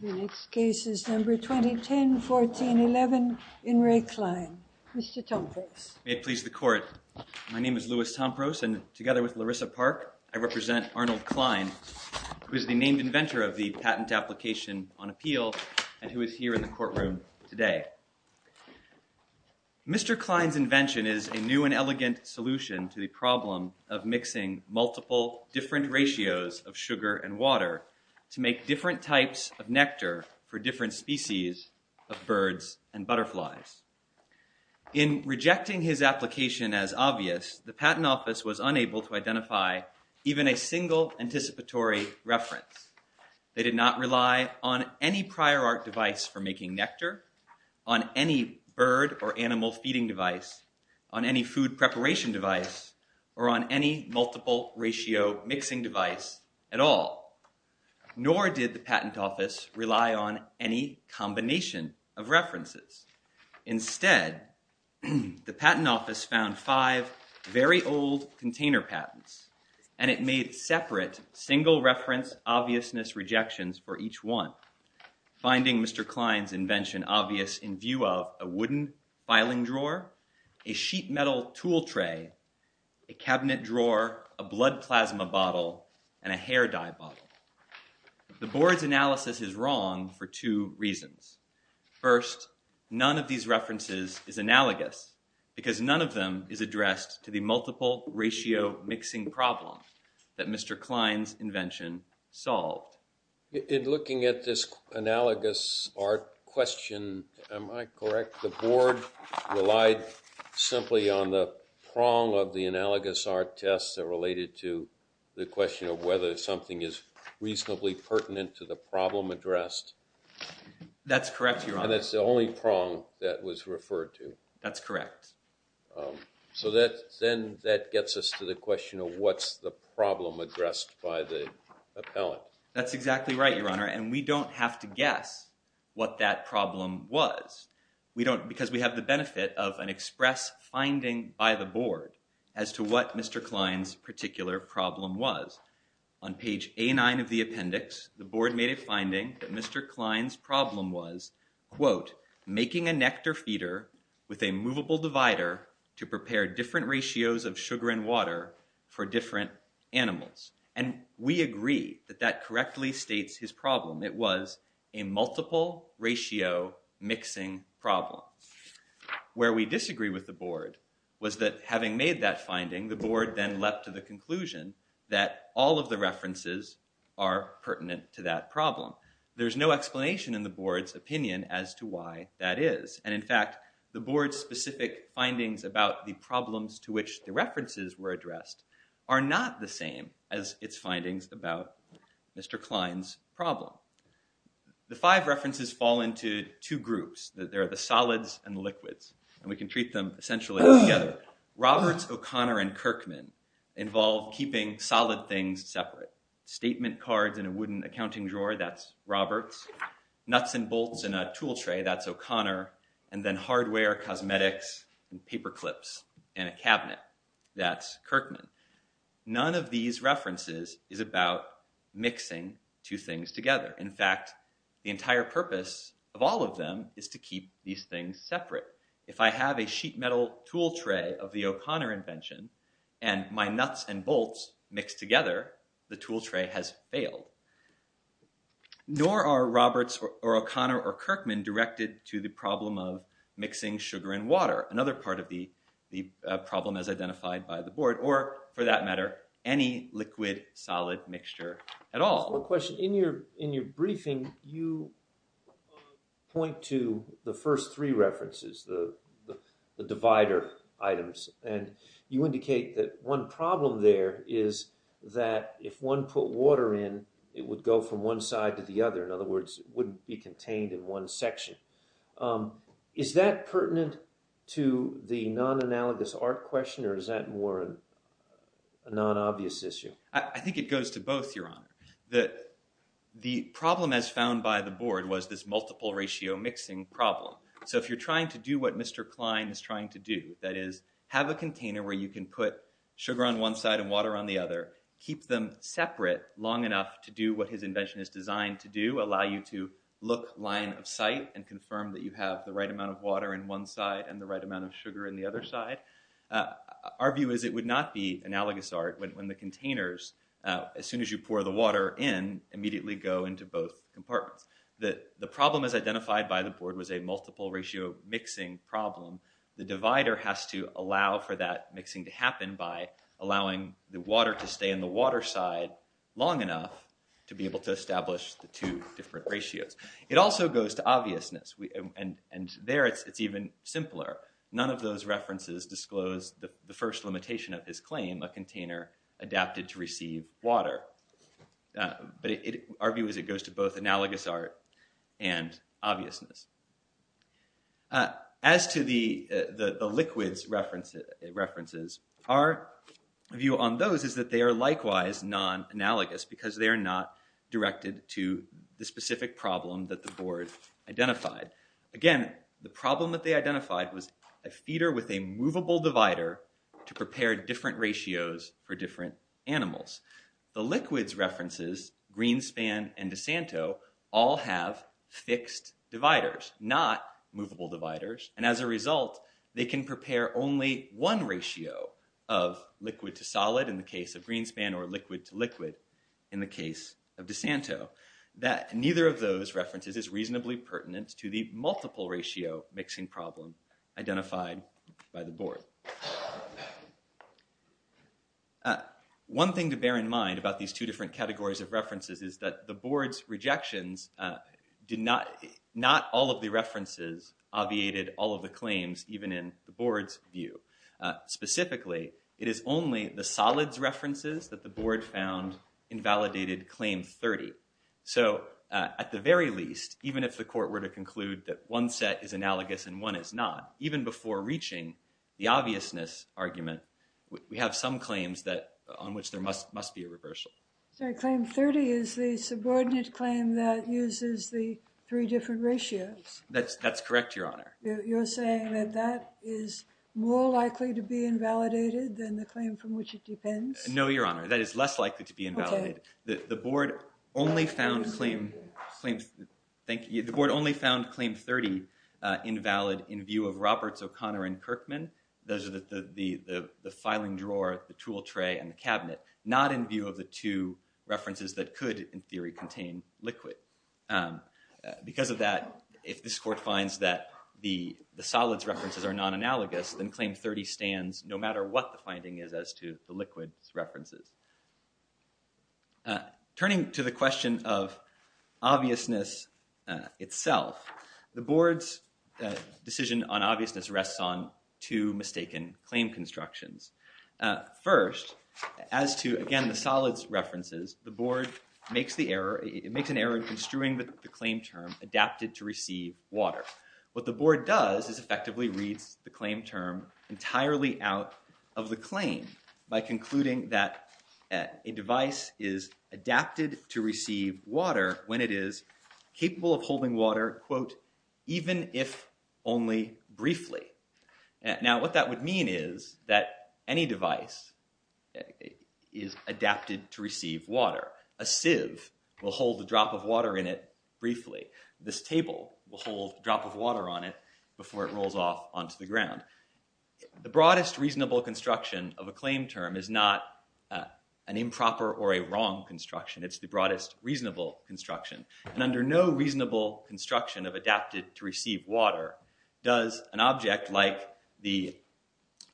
The next case is number 2010-14-11 in Ray Klein. Mr. Tompkins. My name is Louis Tompros, and together with Larissa Park, I represent Arnold Klein, who is the named inventor of the patent application on appeal and who is here in the courtroom today. Mr. Klein's invention is a new and elegant solution to the problem of mixing multiple different ratios of sugar and water to make different types of nectar for different species of birds and butterflies. In rejecting his application as obvious, the patent office was unable to identify even a single anticipatory reference. They did not rely on any prior art device for making nectar, on any bird or animal feeding device, on any food preparation device, or on any multiple ratio mixing device at all. Nor did the patent office rely on any combination of references. Instead, the patent office found five very old container patents and it made separate single reference obviousness rejections for each one, finding Mr. Klein's invention obvious in view of a wooden filing drawer, a sheet metal tool tray, a cabinet drawer, a blood plasma bottle, and a hair dye bottle. The board's analysis is wrong for two reasons. First, none of these references is analogous because none of them is addressed to the multiple ratio mixing problem that Mr. Klein's invention solved. In looking at this analogous art question, am I correct, the board relied simply on the prong of the analogous art tests that related to the question of whether something is reasonably pertinent to the problem addressed? That's correct, Your Honor. And that's the only prong that was referred to. That's correct. So then that gets us to the question of what's the problem addressed by the appellant. That's exactly right, Your Honor. And we don't have to guess what that problem was. Because we have the benefit of an express finding by the board as to what Mr. Klein's particular problem was. On page A9 of the appendix, the board made a finding that Mr. Klein's problem was, quote, making a nectar feeder with a movable divider to prepare different ratios of sugar and water for different animals. And we agree that that correctly states his problem. It was a multiple ratio mixing problem. Where we disagree with the board was that having made that finding, the board then came to the conclusion that all of the references are pertinent to that problem. There's no explanation in the board's opinion as to why that is. And in fact, the board's specific findings about the problems to which the references were addressed are not the same as its findings about Mr. Klein's problem. The five references fall into two groups. There are the solids and liquids. And we can treat them essentially together. Roberts, O'Connor, and Kirkman involve keeping solid things separate. Statement cards in a wooden accounting drawer, that's Roberts. Nuts and bolts in a tool tray, that's O'Connor. And then hardware, cosmetics, and paper clips in a cabinet, that's Kirkman. None of these references is about mixing two things together. In fact, the entire purpose of all of them is to keep these things separate. If I have a sheet metal tool tray of the O'Connor invention and my nuts and bolts mixed together, the tool tray has failed. Nor are Roberts, or O'Connor, or Kirkman directed to the problem of mixing sugar and water, another part of the problem as identified by the board. Or for that matter, any liquid solid mixture at all. One question, in your briefing you point to the first three references, the divider items. And you indicate that one problem there is that if one put water in, it would go from one side to the other. In other words, it wouldn't be contained in one section. Is that pertinent to the non-analogous art question, or is that more a non-obvious issue? I think it goes to both, Your Honor. The problem as found by the board was this multiple ratio mixing problem. So if you're trying to do what Mr. Klein is trying to do, that is have a container where you can put sugar on one side and water on the other. Keep them separate long enough to do what his invention is designed to do. Allow you to look line of sight and confirm that you have the right amount of water in one side and the right amount of sugar in the other side. Our view is it would not be analogous art when the containers, as soon as you pour the water in, immediately go into both compartments. The problem as identified by the board was a multiple ratio mixing problem. The divider has to allow for that mixing to happen by allowing the water to stay in the water side long enough to be able to establish the two different ratios. It also goes to obviousness. And there, it's even simpler. None of those references disclose the first limitation of his claim, a container adapted to receive water. But our view is it goes to both analogous art and obviousness. As to the liquids references, our view on those is that they are likewise non-analogous because they are not directed to the specific problem that the board identified. Again, the problem that they identified was a feeder with a movable divider to prepare different ratios for different animals. The liquids references, Greenspan and DeSanto, all have fixed dividers, not movable dividers. And as a result, they can prepare only one ratio of liquid to solid in the case of Greenspan or liquid to liquid in the case of DeSanto. Neither of those references is reasonably pertinent to the multiple ratio mixing problem identified by the board. One thing to bear in mind about these two different categories of references is that the board's rejections, not all of the references obviated all of the claims, even in the board's view. Specifically, it is only the solids references that the board found invalidated claim 30. So at the very least, even if the court were to conclude that one set is analogous and one is not, even before reaching the obviousness argument, we have some claims on which there must be a reversal. Claim 30 is the subordinate claim that uses the three different ratios. That's correct, Your Honor. You're saying that that is more likely to be invalidated than the claim from which it depends? No, Your Honor. That is less likely to be invalidated. The board only found claim 30 invalid in view of Roberts, O'Connor, and Kirkman. Those are the filing drawer, the tool tray, and the cabinet. Not in view of the two references that could, in theory, contain liquid. Because of that, if this court finds that the solids references are non-analogous, then claim 30 stands no matter what the finding is as to the liquids references. Turning to the question of obviousness itself, the board's decision on obviousness rests on two mistaken claim constructions. First, as to, again, the solids references, the board makes an error in construing the claim term adapted to receive water. What the board does is effectively reads the claim term entirely out of the claim by concluding that a device is adapted to receive water when it is capable of holding water, quote, even if only briefly. Now, what that would mean is that any device is adapted to receive water. A sieve will hold a drop of water in it briefly. This table will hold a drop of water on it before it rolls off onto the ground. The broadest reasonable construction of a claim term is not an improper or a wrong construction. It's the broadest reasonable construction. And under no reasonable construction of adapted to receive water does an object like the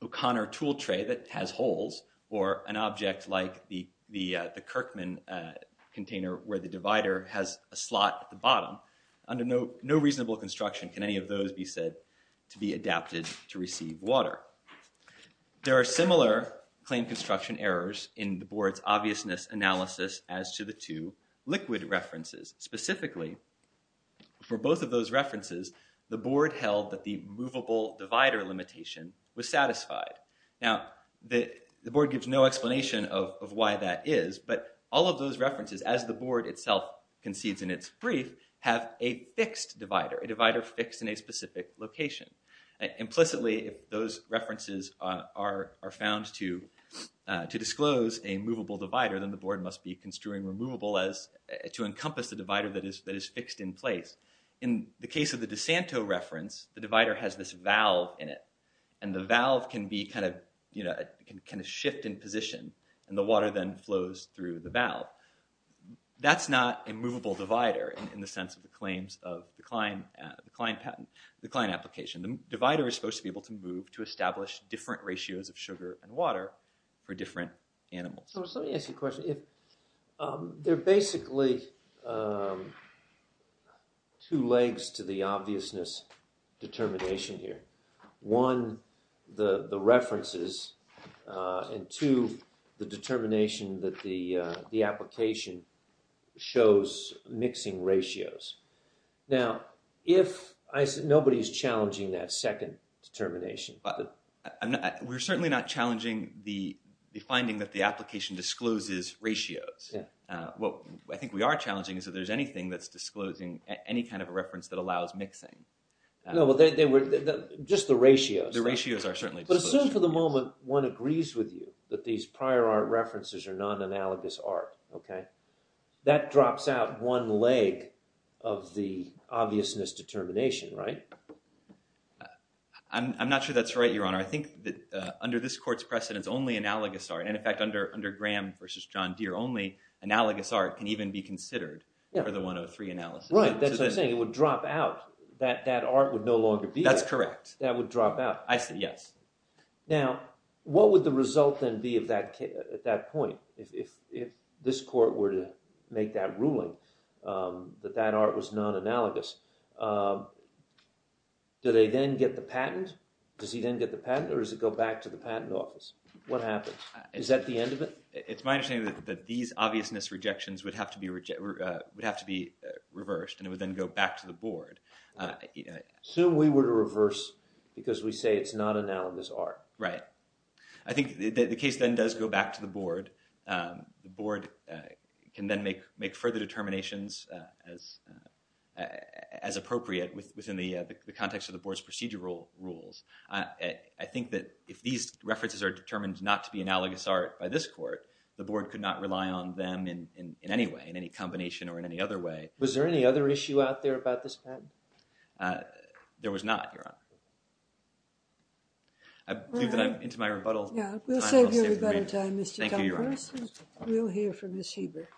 O'Connor tool tray that has holes, or an object like the Kirkman container where the divider has a slot at the bottom, under no reasonable construction can any of those be said to be adapted to receive water. There are similar claim construction errors in the board's obviousness analysis as to the two liquid references. Specifically, for both of those references, the board held that the movable divider limitation was satisfied. Now, the board gives no explanation of why that is. But all of those references, as the board itself concedes in its brief, have a fixed divider, a divider fixed in a specific location. Implicitly, if those references are found to disclose a movable divider, then the board must be construing removable to encompass the divider that is fixed in place. In the case of the DeSanto reference, the divider has this valve in it. And the valve can shift in position. And the water then flows through the valve. That's not a movable divider in the sense of the claims of the client patent, the client application. The divider is supposed to be able to move to establish different ratios of sugar and water for different animals. So let me ask you a question. There are basically two legs to the obviousness determination here. One, the references. And two, the determination that the application shows mixing ratios. Now, nobody's challenging that second determination. We're certainly not challenging the finding that the application discloses ratios. What I think we are challenging is if there's anything that's disclosing any kind of a reference that allows mixing. Just the ratios. The ratios are certainly disclosed. But assume for the moment one agrees with you that these prior art references are non-analogous art. That drops out one leg of the obviousness determination, right? I'm not sure that's right, Your Honor. I think that under this court's precedence, only analogous art, and in fact, under Graham versus John Deere only, analogous art can even be considered for the 103 analysis. That's what I'm saying. It would drop out. That art would no longer be there. That's correct. That would drop out. I say yes. Now, what would the result then be at that point? If this court were to make that ruling, that that art was non-analogous, do they then get the patent? Does he then get the patent? Or does it go back to the patent office? What happens? Is that the end of it? It's my understanding that these obviousness rejections would have to be reversed. And it would then go back to the board. Assume we were to reverse because we say it's not analogous art. Right. I think the case then does go back to the board. The board can then make further determinations as appropriate within the context of the board's procedural rules. I think that if these references are determined not to be analogous art by this court, the board could not rely on them in any way, in any combination or in any other way. Was there any other issue out there about this patent? There was not, Your Honor. I believe that I'm into my rebuttal time. We'll save your rebuttal time, Mr. Dunn, first. Thank you, Your Honor. We'll hear from Ms. Heber.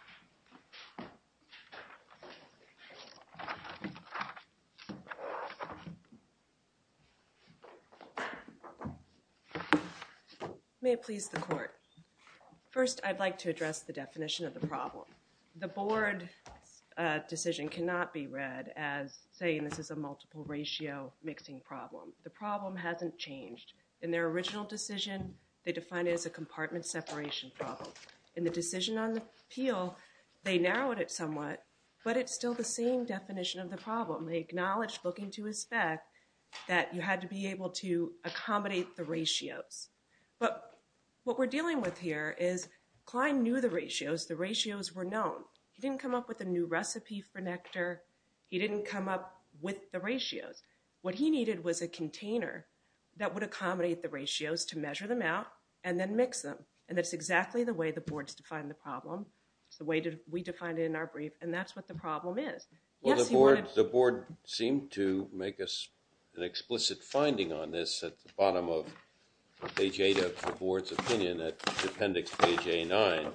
May it please the court. First, I'd like to address the definition of the problem. The board decision cannot be read as saying this is a multiple ratio mixing problem. The problem hasn't changed. In their original decision, they defined it as a compartment separation problem. In the decision on the appeal, they narrowed it somewhat. But it's still the same definition of the problem. They acknowledged looking to a spec that you had to be able to accommodate the ratios. But what we're dealing with here is Klein knew the ratios. The ratios were known. He didn't come up with a new recipe for nectar. He didn't come up with the ratios. What he needed was a container that would accommodate the ratios to measure them out and then mix them. And that's exactly the way the board's defined the problem. It's the way we defined it in our brief. And that's what the problem is. The board seemed to make us an explicit finding on this at the bottom of page 8 of the board's opinion at appendix page A9. It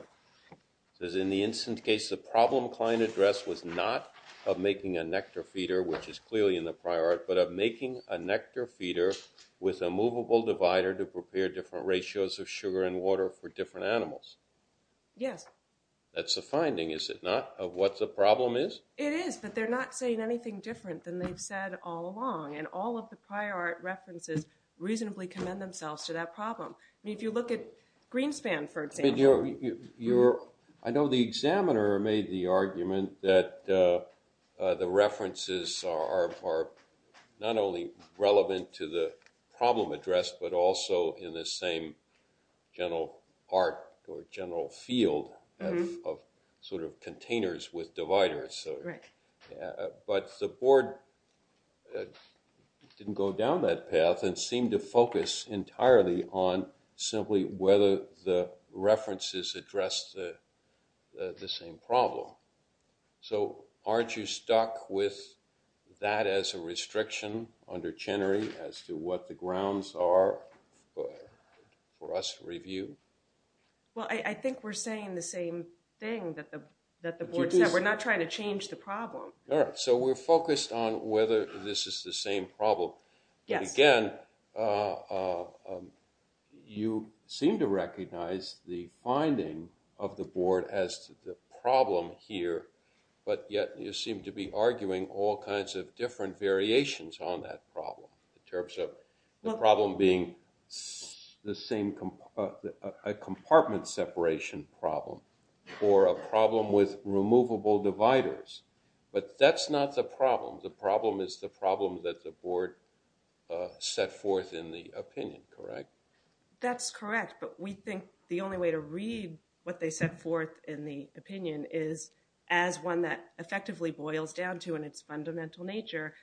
says, in the instance case, the problem Klein addressed was not of making a nectar feeder, which is clearly in the prior art, but of making a nectar feeder with a movable divider to prepare different ratios of sugar and water for different animals. Yes. That's a finding, is it not, of what the problem is? It is, but they're not saying anything different than they've said all along. And all of the prior art references reasonably commend themselves to that problem. If you look at Greenspan, for example. I know the examiner made the argument that the references are not only relevant to the problem addressed, but also in the same general art or general field of sort of containers with dividers. But the board didn't go down that path and seemed to focus entirely on simply whether the references addressed the same problem. So aren't you stuck with that as a restriction under Chenery as to what the grounds are for us to review? Well, I think we're saying the same thing that the board said. We're not trying to change the problem. So we're focused on whether this is the same problem. Again, you seem to recognize the finding of the board as the problem here, but yet you seem to be arguing all kinds of different variations on that problem in terms of the problem being the same compartment separation problem or a problem with removable dividers. But that's not the problem. The problem is the problem that the board set forth in the opinion, correct? That's correct. But we think the only way to read what they set forth in the opinion is as one that effectively boils down to in its fundamental nature,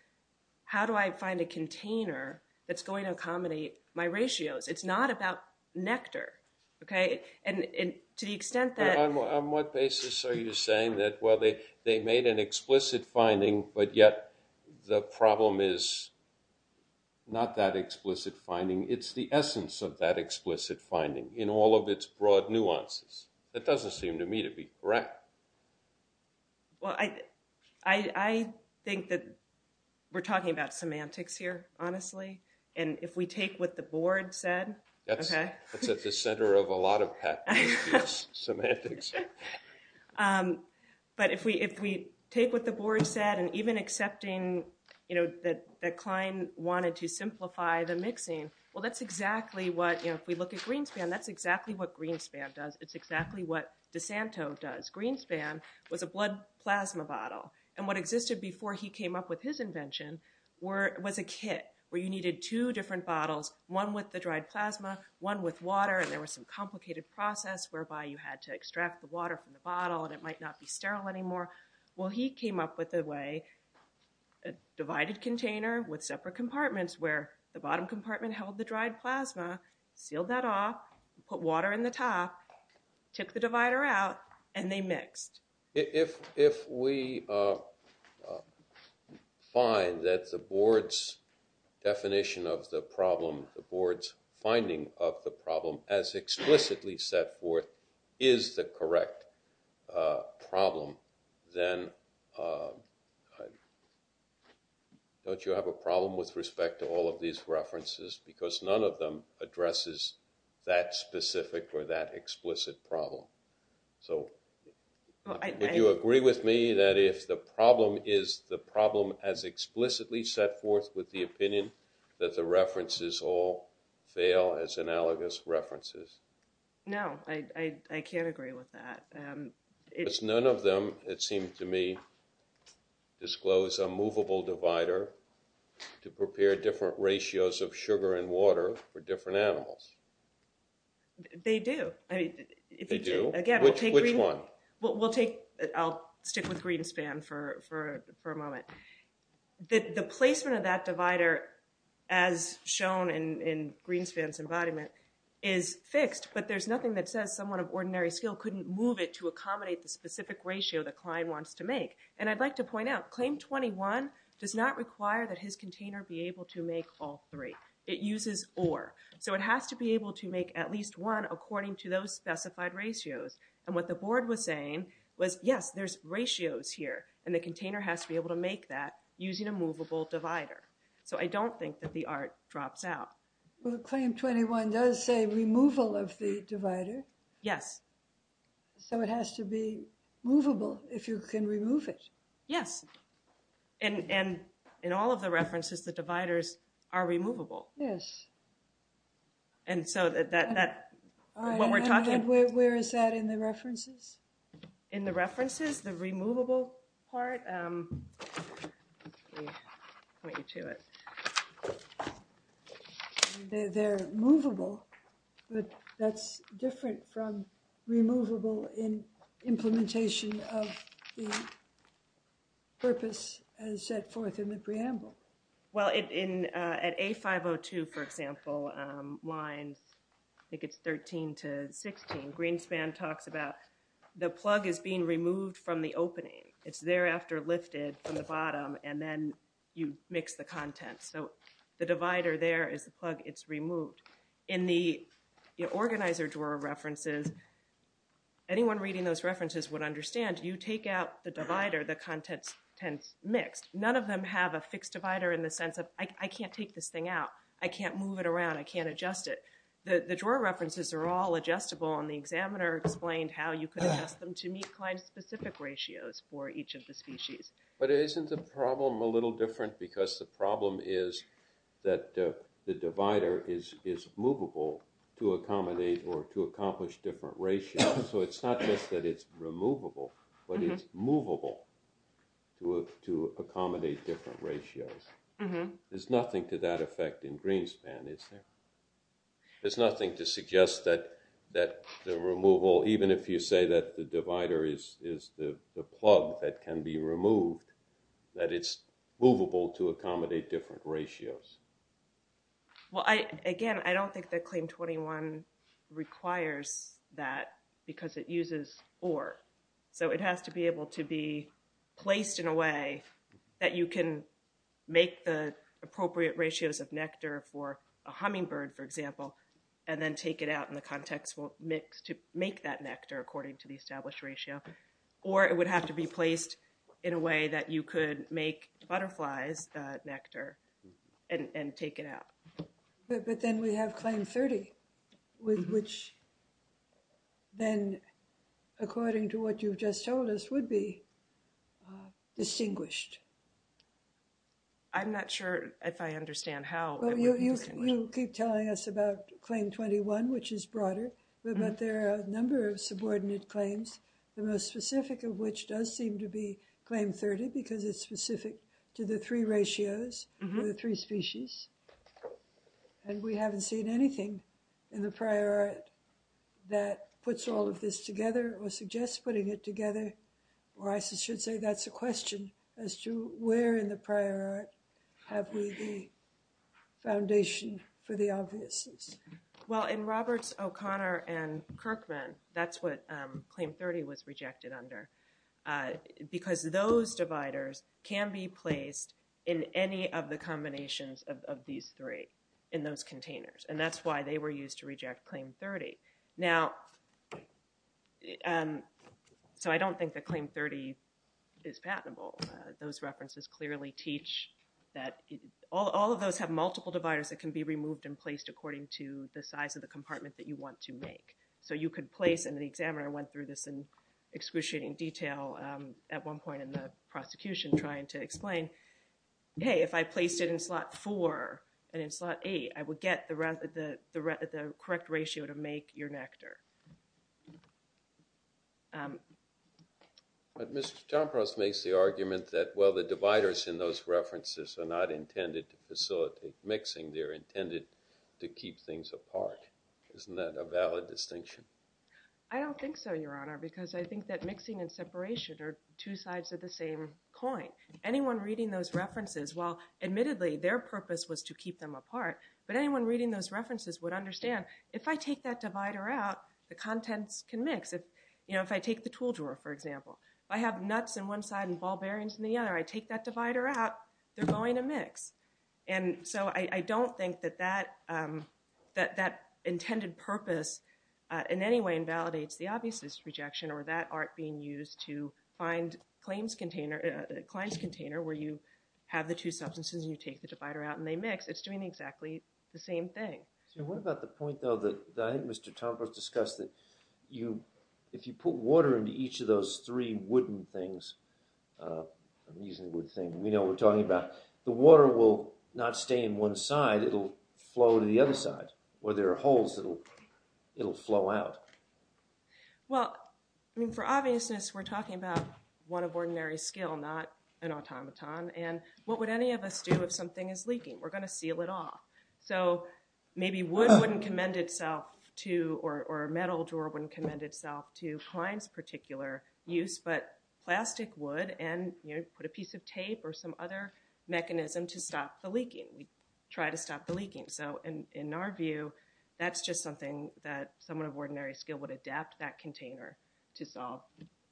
how do I find a container that's going to accommodate my ratios? It's not about nectar, OK? And to the extent that on what basis are you saying that, well, they made an explicit finding, but yet the problem is not that explicit finding. It's the essence of that explicit finding in all of its broad nuances. That doesn't seem to me to be correct. Well, I think that we're talking about semantics here, honestly. And if we take what the board said, OK? That's at the center of a lot of path semantics. But if we take what the board said and even accepting that Klein wanted to simplify the mixing, well, that's exactly what, if we look at Greenspan, that's exactly what Greenspan does. It's exactly what DeSanto does. Greenspan was a blood plasma bottle. And what existed before he came up with his invention was a kit where you needed two different bottles, one with the dried plasma, one with water, and there was some complicated process whereby you had to extract the water from the bottle and it might not be sterile anymore. Well, he came up with a way, a divided container with separate compartments where the bottom compartment held the dried plasma, sealed that off, put water in the top, took the divider out, and they mixed. If we find that the board's definition of the problem, the board's finding of the problem, as explicitly set forth is the correct problem, then don't you have a problem with respect to all of these references? Because none of them addresses that specific or that explicit problem. So would you agree with me that if the problem is the problem as explicitly set forth with the opinion that the references all fail as analogous references? No, I can't agree with that. Because none of them, it seemed to me, disclose a movable divider to prepare different ratios of sugar and water for different animals. They do. They do? Again, we'll take green. Which one? I'll stick with Greenspan for a moment. The placement of that divider, as shown in Greenspan's embodiment, is fixed. But there's nothing that says someone of ordinary skill couldn't move it to accommodate the specific ratio the client wants to make. And I'd like to point out, claim 21 does not require that his container be able to make all three. It uses or. So it has to be able to make at least one according to those specified ratios. And what the board was saying was, yes, there's ratios here. And the container has to be able to make that using a movable divider. So I don't think that the art drops out. Well, claim 21 does say removal of the divider. Yes. So it has to be movable if you can remove it. Yes. And in all of the references, the dividers are removable. Yes. And so what we're talking about. Where is that in the references? In the references? The removable part? They're movable. That's different from removable in implementation of the purpose as set forth in the preamble. Well, at A502, for example, lines, I think it's 13 to 16, Greenspan talks about the plug is being removed from the opening. It's thereafter lifted from the bottom, and then you mix the contents. So the divider there is the plug. It's removed. In the organizer drawer references, anyone reading those references would understand, you take out the divider, the contents tends mixed. None of them have a fixed divider in the sense of, I can't take this thing out. I can't move it around. I can't adjust it. The drawer references are all adjustable, and the examiner explained how you could adjust them to meet client-specific ratios for each of the species. But isn't the problem a little different? Because the problem is that the divider is movable to accommodate or to accomplish different ratios. So it's not just that it's removable, but it's movable to accommodate different ratios. There's nothing to that effect in Greenspan, is there? There's nothing to suggest that the removal, even if you say that the divider is the plug that can be removed, that it's movable to accommodate different ratios. Well, again, I don't think that Claim 21 requires that, because it uses or. So it has to be able to be placed in a way that you can make the appropriate ratios of nectar for a hummingbird, for example, and then take it out in the contextual mix to make that nectar according to the established ratio. Or it would have to be placed in a way that you could make butterflies nectar and take it out. But then we have Claim 30, with which then, according to what you've just told us, would be distinguished. I'm not sure if I understand how it would be distinguished. Well, you keep telling us about Claim 21, which is broader. But there are a number of subordinate claims, the most specific of which does seem to be Claim 30, because it's specific to the three ratios, the three species. And we haven't seen anything in the prior art that puts all of this together or suggests putting it together, or I should say that's a question as to where in the prior art have we the foundation for the obviousness. Well, in Roberts, O'Connor, and Kirkman, that's what Claim 30 was rejected under, because those dividers can be placed in any of the combinations of these three in those containers. And that's why they were used to reject Claim 30. Now, so I don't think that Claim 30 is patentable. Those references clearly teach that all of those have multiple dividers that can be removed and placed according to the size of the compartment that you want to make. So you could place, and the examiner went through this in excruciating detail at one point in the prosecution trying to explain, hey, if I placed it in slot 4 and in slot 8, I would get the correct ratio to make your nectar. But Mr. Jompros makes the argument that, well, the dividers in those references are not intended to facilitate mixing. They're intended to keep things apart. Isn't that a valid distinction? I don't think so, Your Honor, because I think that mixing and separation are two sides of the same coin. Anyone reading those references, while admittedly their purpose was to keep them apart, but anyone reading those references would understand, if I take that divider out, the contents can mix. If I take the tool drawer, for example, if I have nuts in one side and ball bearings in the other, I take that divider out, they're going to mix. And so I don't think that that intended purpose in any way invalidates the obvious rejection or that art being used to find a claims container where you have the two substances and you take the divider out and they mix, it's doing exactly the same thing. So what about the point, though, that I think Mr. Jompros discussed, that if you put water into each of those three wooden things, I'm using the word thing, we know what we're talking about, the water will not stay in one side. It'll flow to the other side. Or there are holes that'll flow out. Well, I mean, for obviousness, we're talking about one of ordinary skill, not an automaton. And what would any of us do if something is leaking? We're going to seal it off. So maybe wood wouldn't commend itself to, or a metal drawer wouldn't commend itself to Klein's particular use. But plastic would. And you put a piece of tape or some other mechanism to stop the leaking. We try to stop the leaking. So in our view, that's just something that someone of ordinary skill would adapt that container to solve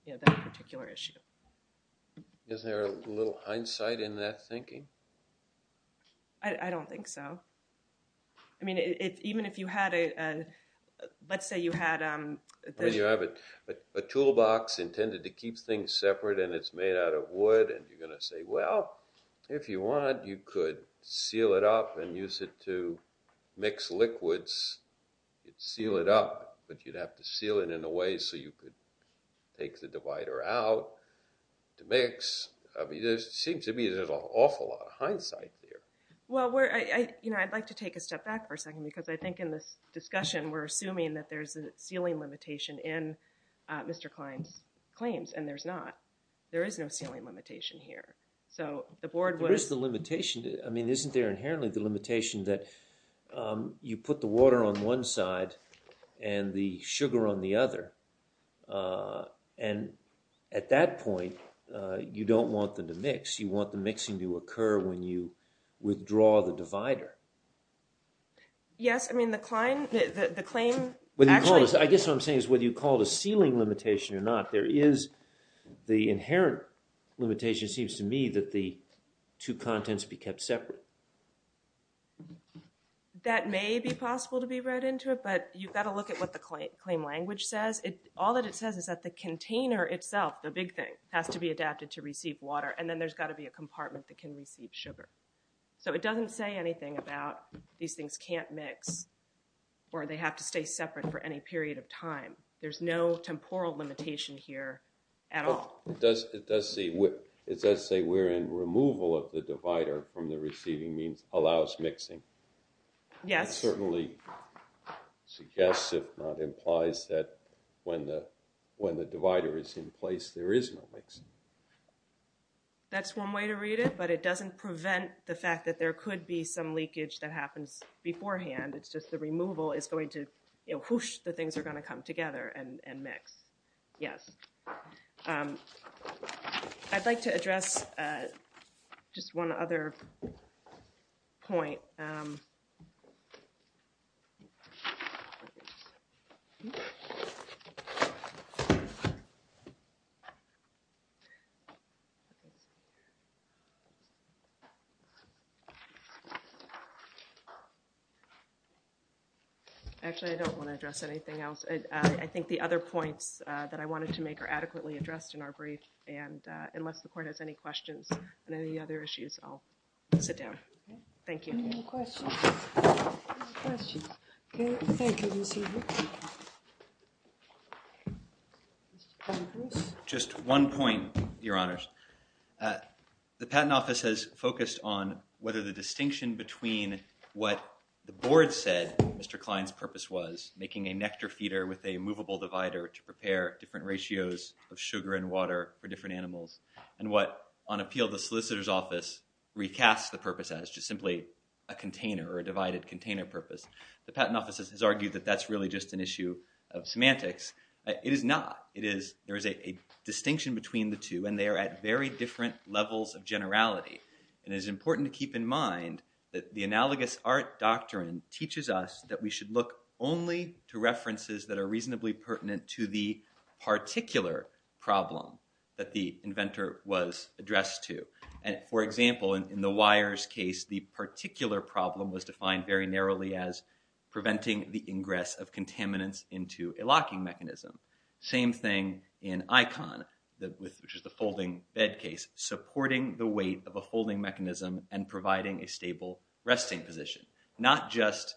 that particular issue. Isn't there a little hindsight in that thinking? I don't think so. I mean, even if you had a, let's say you had a. You have a toolbox intended to keep things separate, and it's made out of wood. And you're going to say, well, if you want, you could seal it up and use it to mix liquids. Seal it up, but you'd have to seal it in a way so you could take the divider out to mix. I mean, it seems to me there's an awful lot of hindsight there. Well, I'd like to take a step back for a second, because I think in this discussion, we're assuming that there's a sealing limitation in Mr. Klein's claims. And there's not. There is no sealing limitation here. So the board would. There is the limitation. I mean, isn't there inherently the limitation that you put the water on one side and the sugar on the other? And at that point, you don't want them to mix. You want the mixing to occur when you withdraw the divider. Yes, I mean, the Klein, the claim actually. I guess what I'm saying is whether you call it a sealing limitation or not, there is the inherent limitation, seems to me, that the two contents be kept separate. That may be possible to be read into it, but you've got to look at what the claim language says. All that it says is that the container itself, the big thing, has to be adapted to receive water. And then there's got to be a compartment that can receive sugar. So it doesn't say anything about these things can't mix or they have to stay separate for any period of time. There's no temporal limitation here at all. It does say we're in removal of the divider from the receiving means allows mixing. Yes. It certainly suggests, if not implies, that when the divider is in place, there is no mixing. That's one way to read it, but it doesn't prevent the fact that there could be some leakage that happens beforehand. It's just the removal is going to, whoosh, the things are going to come together and mix. Yes. I'd like to address just one other point. Actually, I don't want to address anything else. I think the other points that I wanted to make are adequately addressed in our brief. And unless the court has any questions on any other issues, I'll sit down. Thank you. Any questions? Any questions? OK. Thank you, Ms. Hewitt. Just one point, Your Honors. The Patent Office has focused on whether the distinction between what the board said Mr. Kline's purpose was, making a nectar feeder with a movable divider to prepare different ratios of sugar and water for different animals, and what, on appeal, the solicitor's office recasts the purpose as, just simply a container or a divided container purpose. The Patent Office has argued that that's really just an issue of semantics. It is not. There is a distinction between the two, and they are at very different levels of generality. And it is important to keep in mind that the analogous art doctrine teaches us that we should look only to references that are reasonably pertinent to the particular problem that the inventor was addressed to. And for example, in the wires case, the particular problem was defined very narrowly as preventing the ingress of contaminants into a locking mechanism. Same thing in ICON, which is the folding bed case, supporting the weight of a folding mechanism and providing a stable resting position. Not just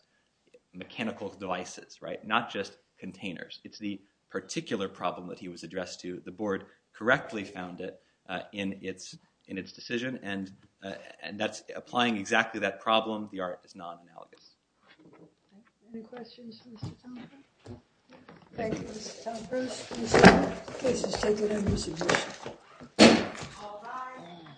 mechanical devices, right? Not just containers. It's the particular problem that he was addressed to. The board correctly found it in its decision. And applying exactly that problem, the art is non-analogous. Any questions for Mr. Tompkins? Thank you, Mr. Tompkins. Mr. Case, let's take it under submission. All rise.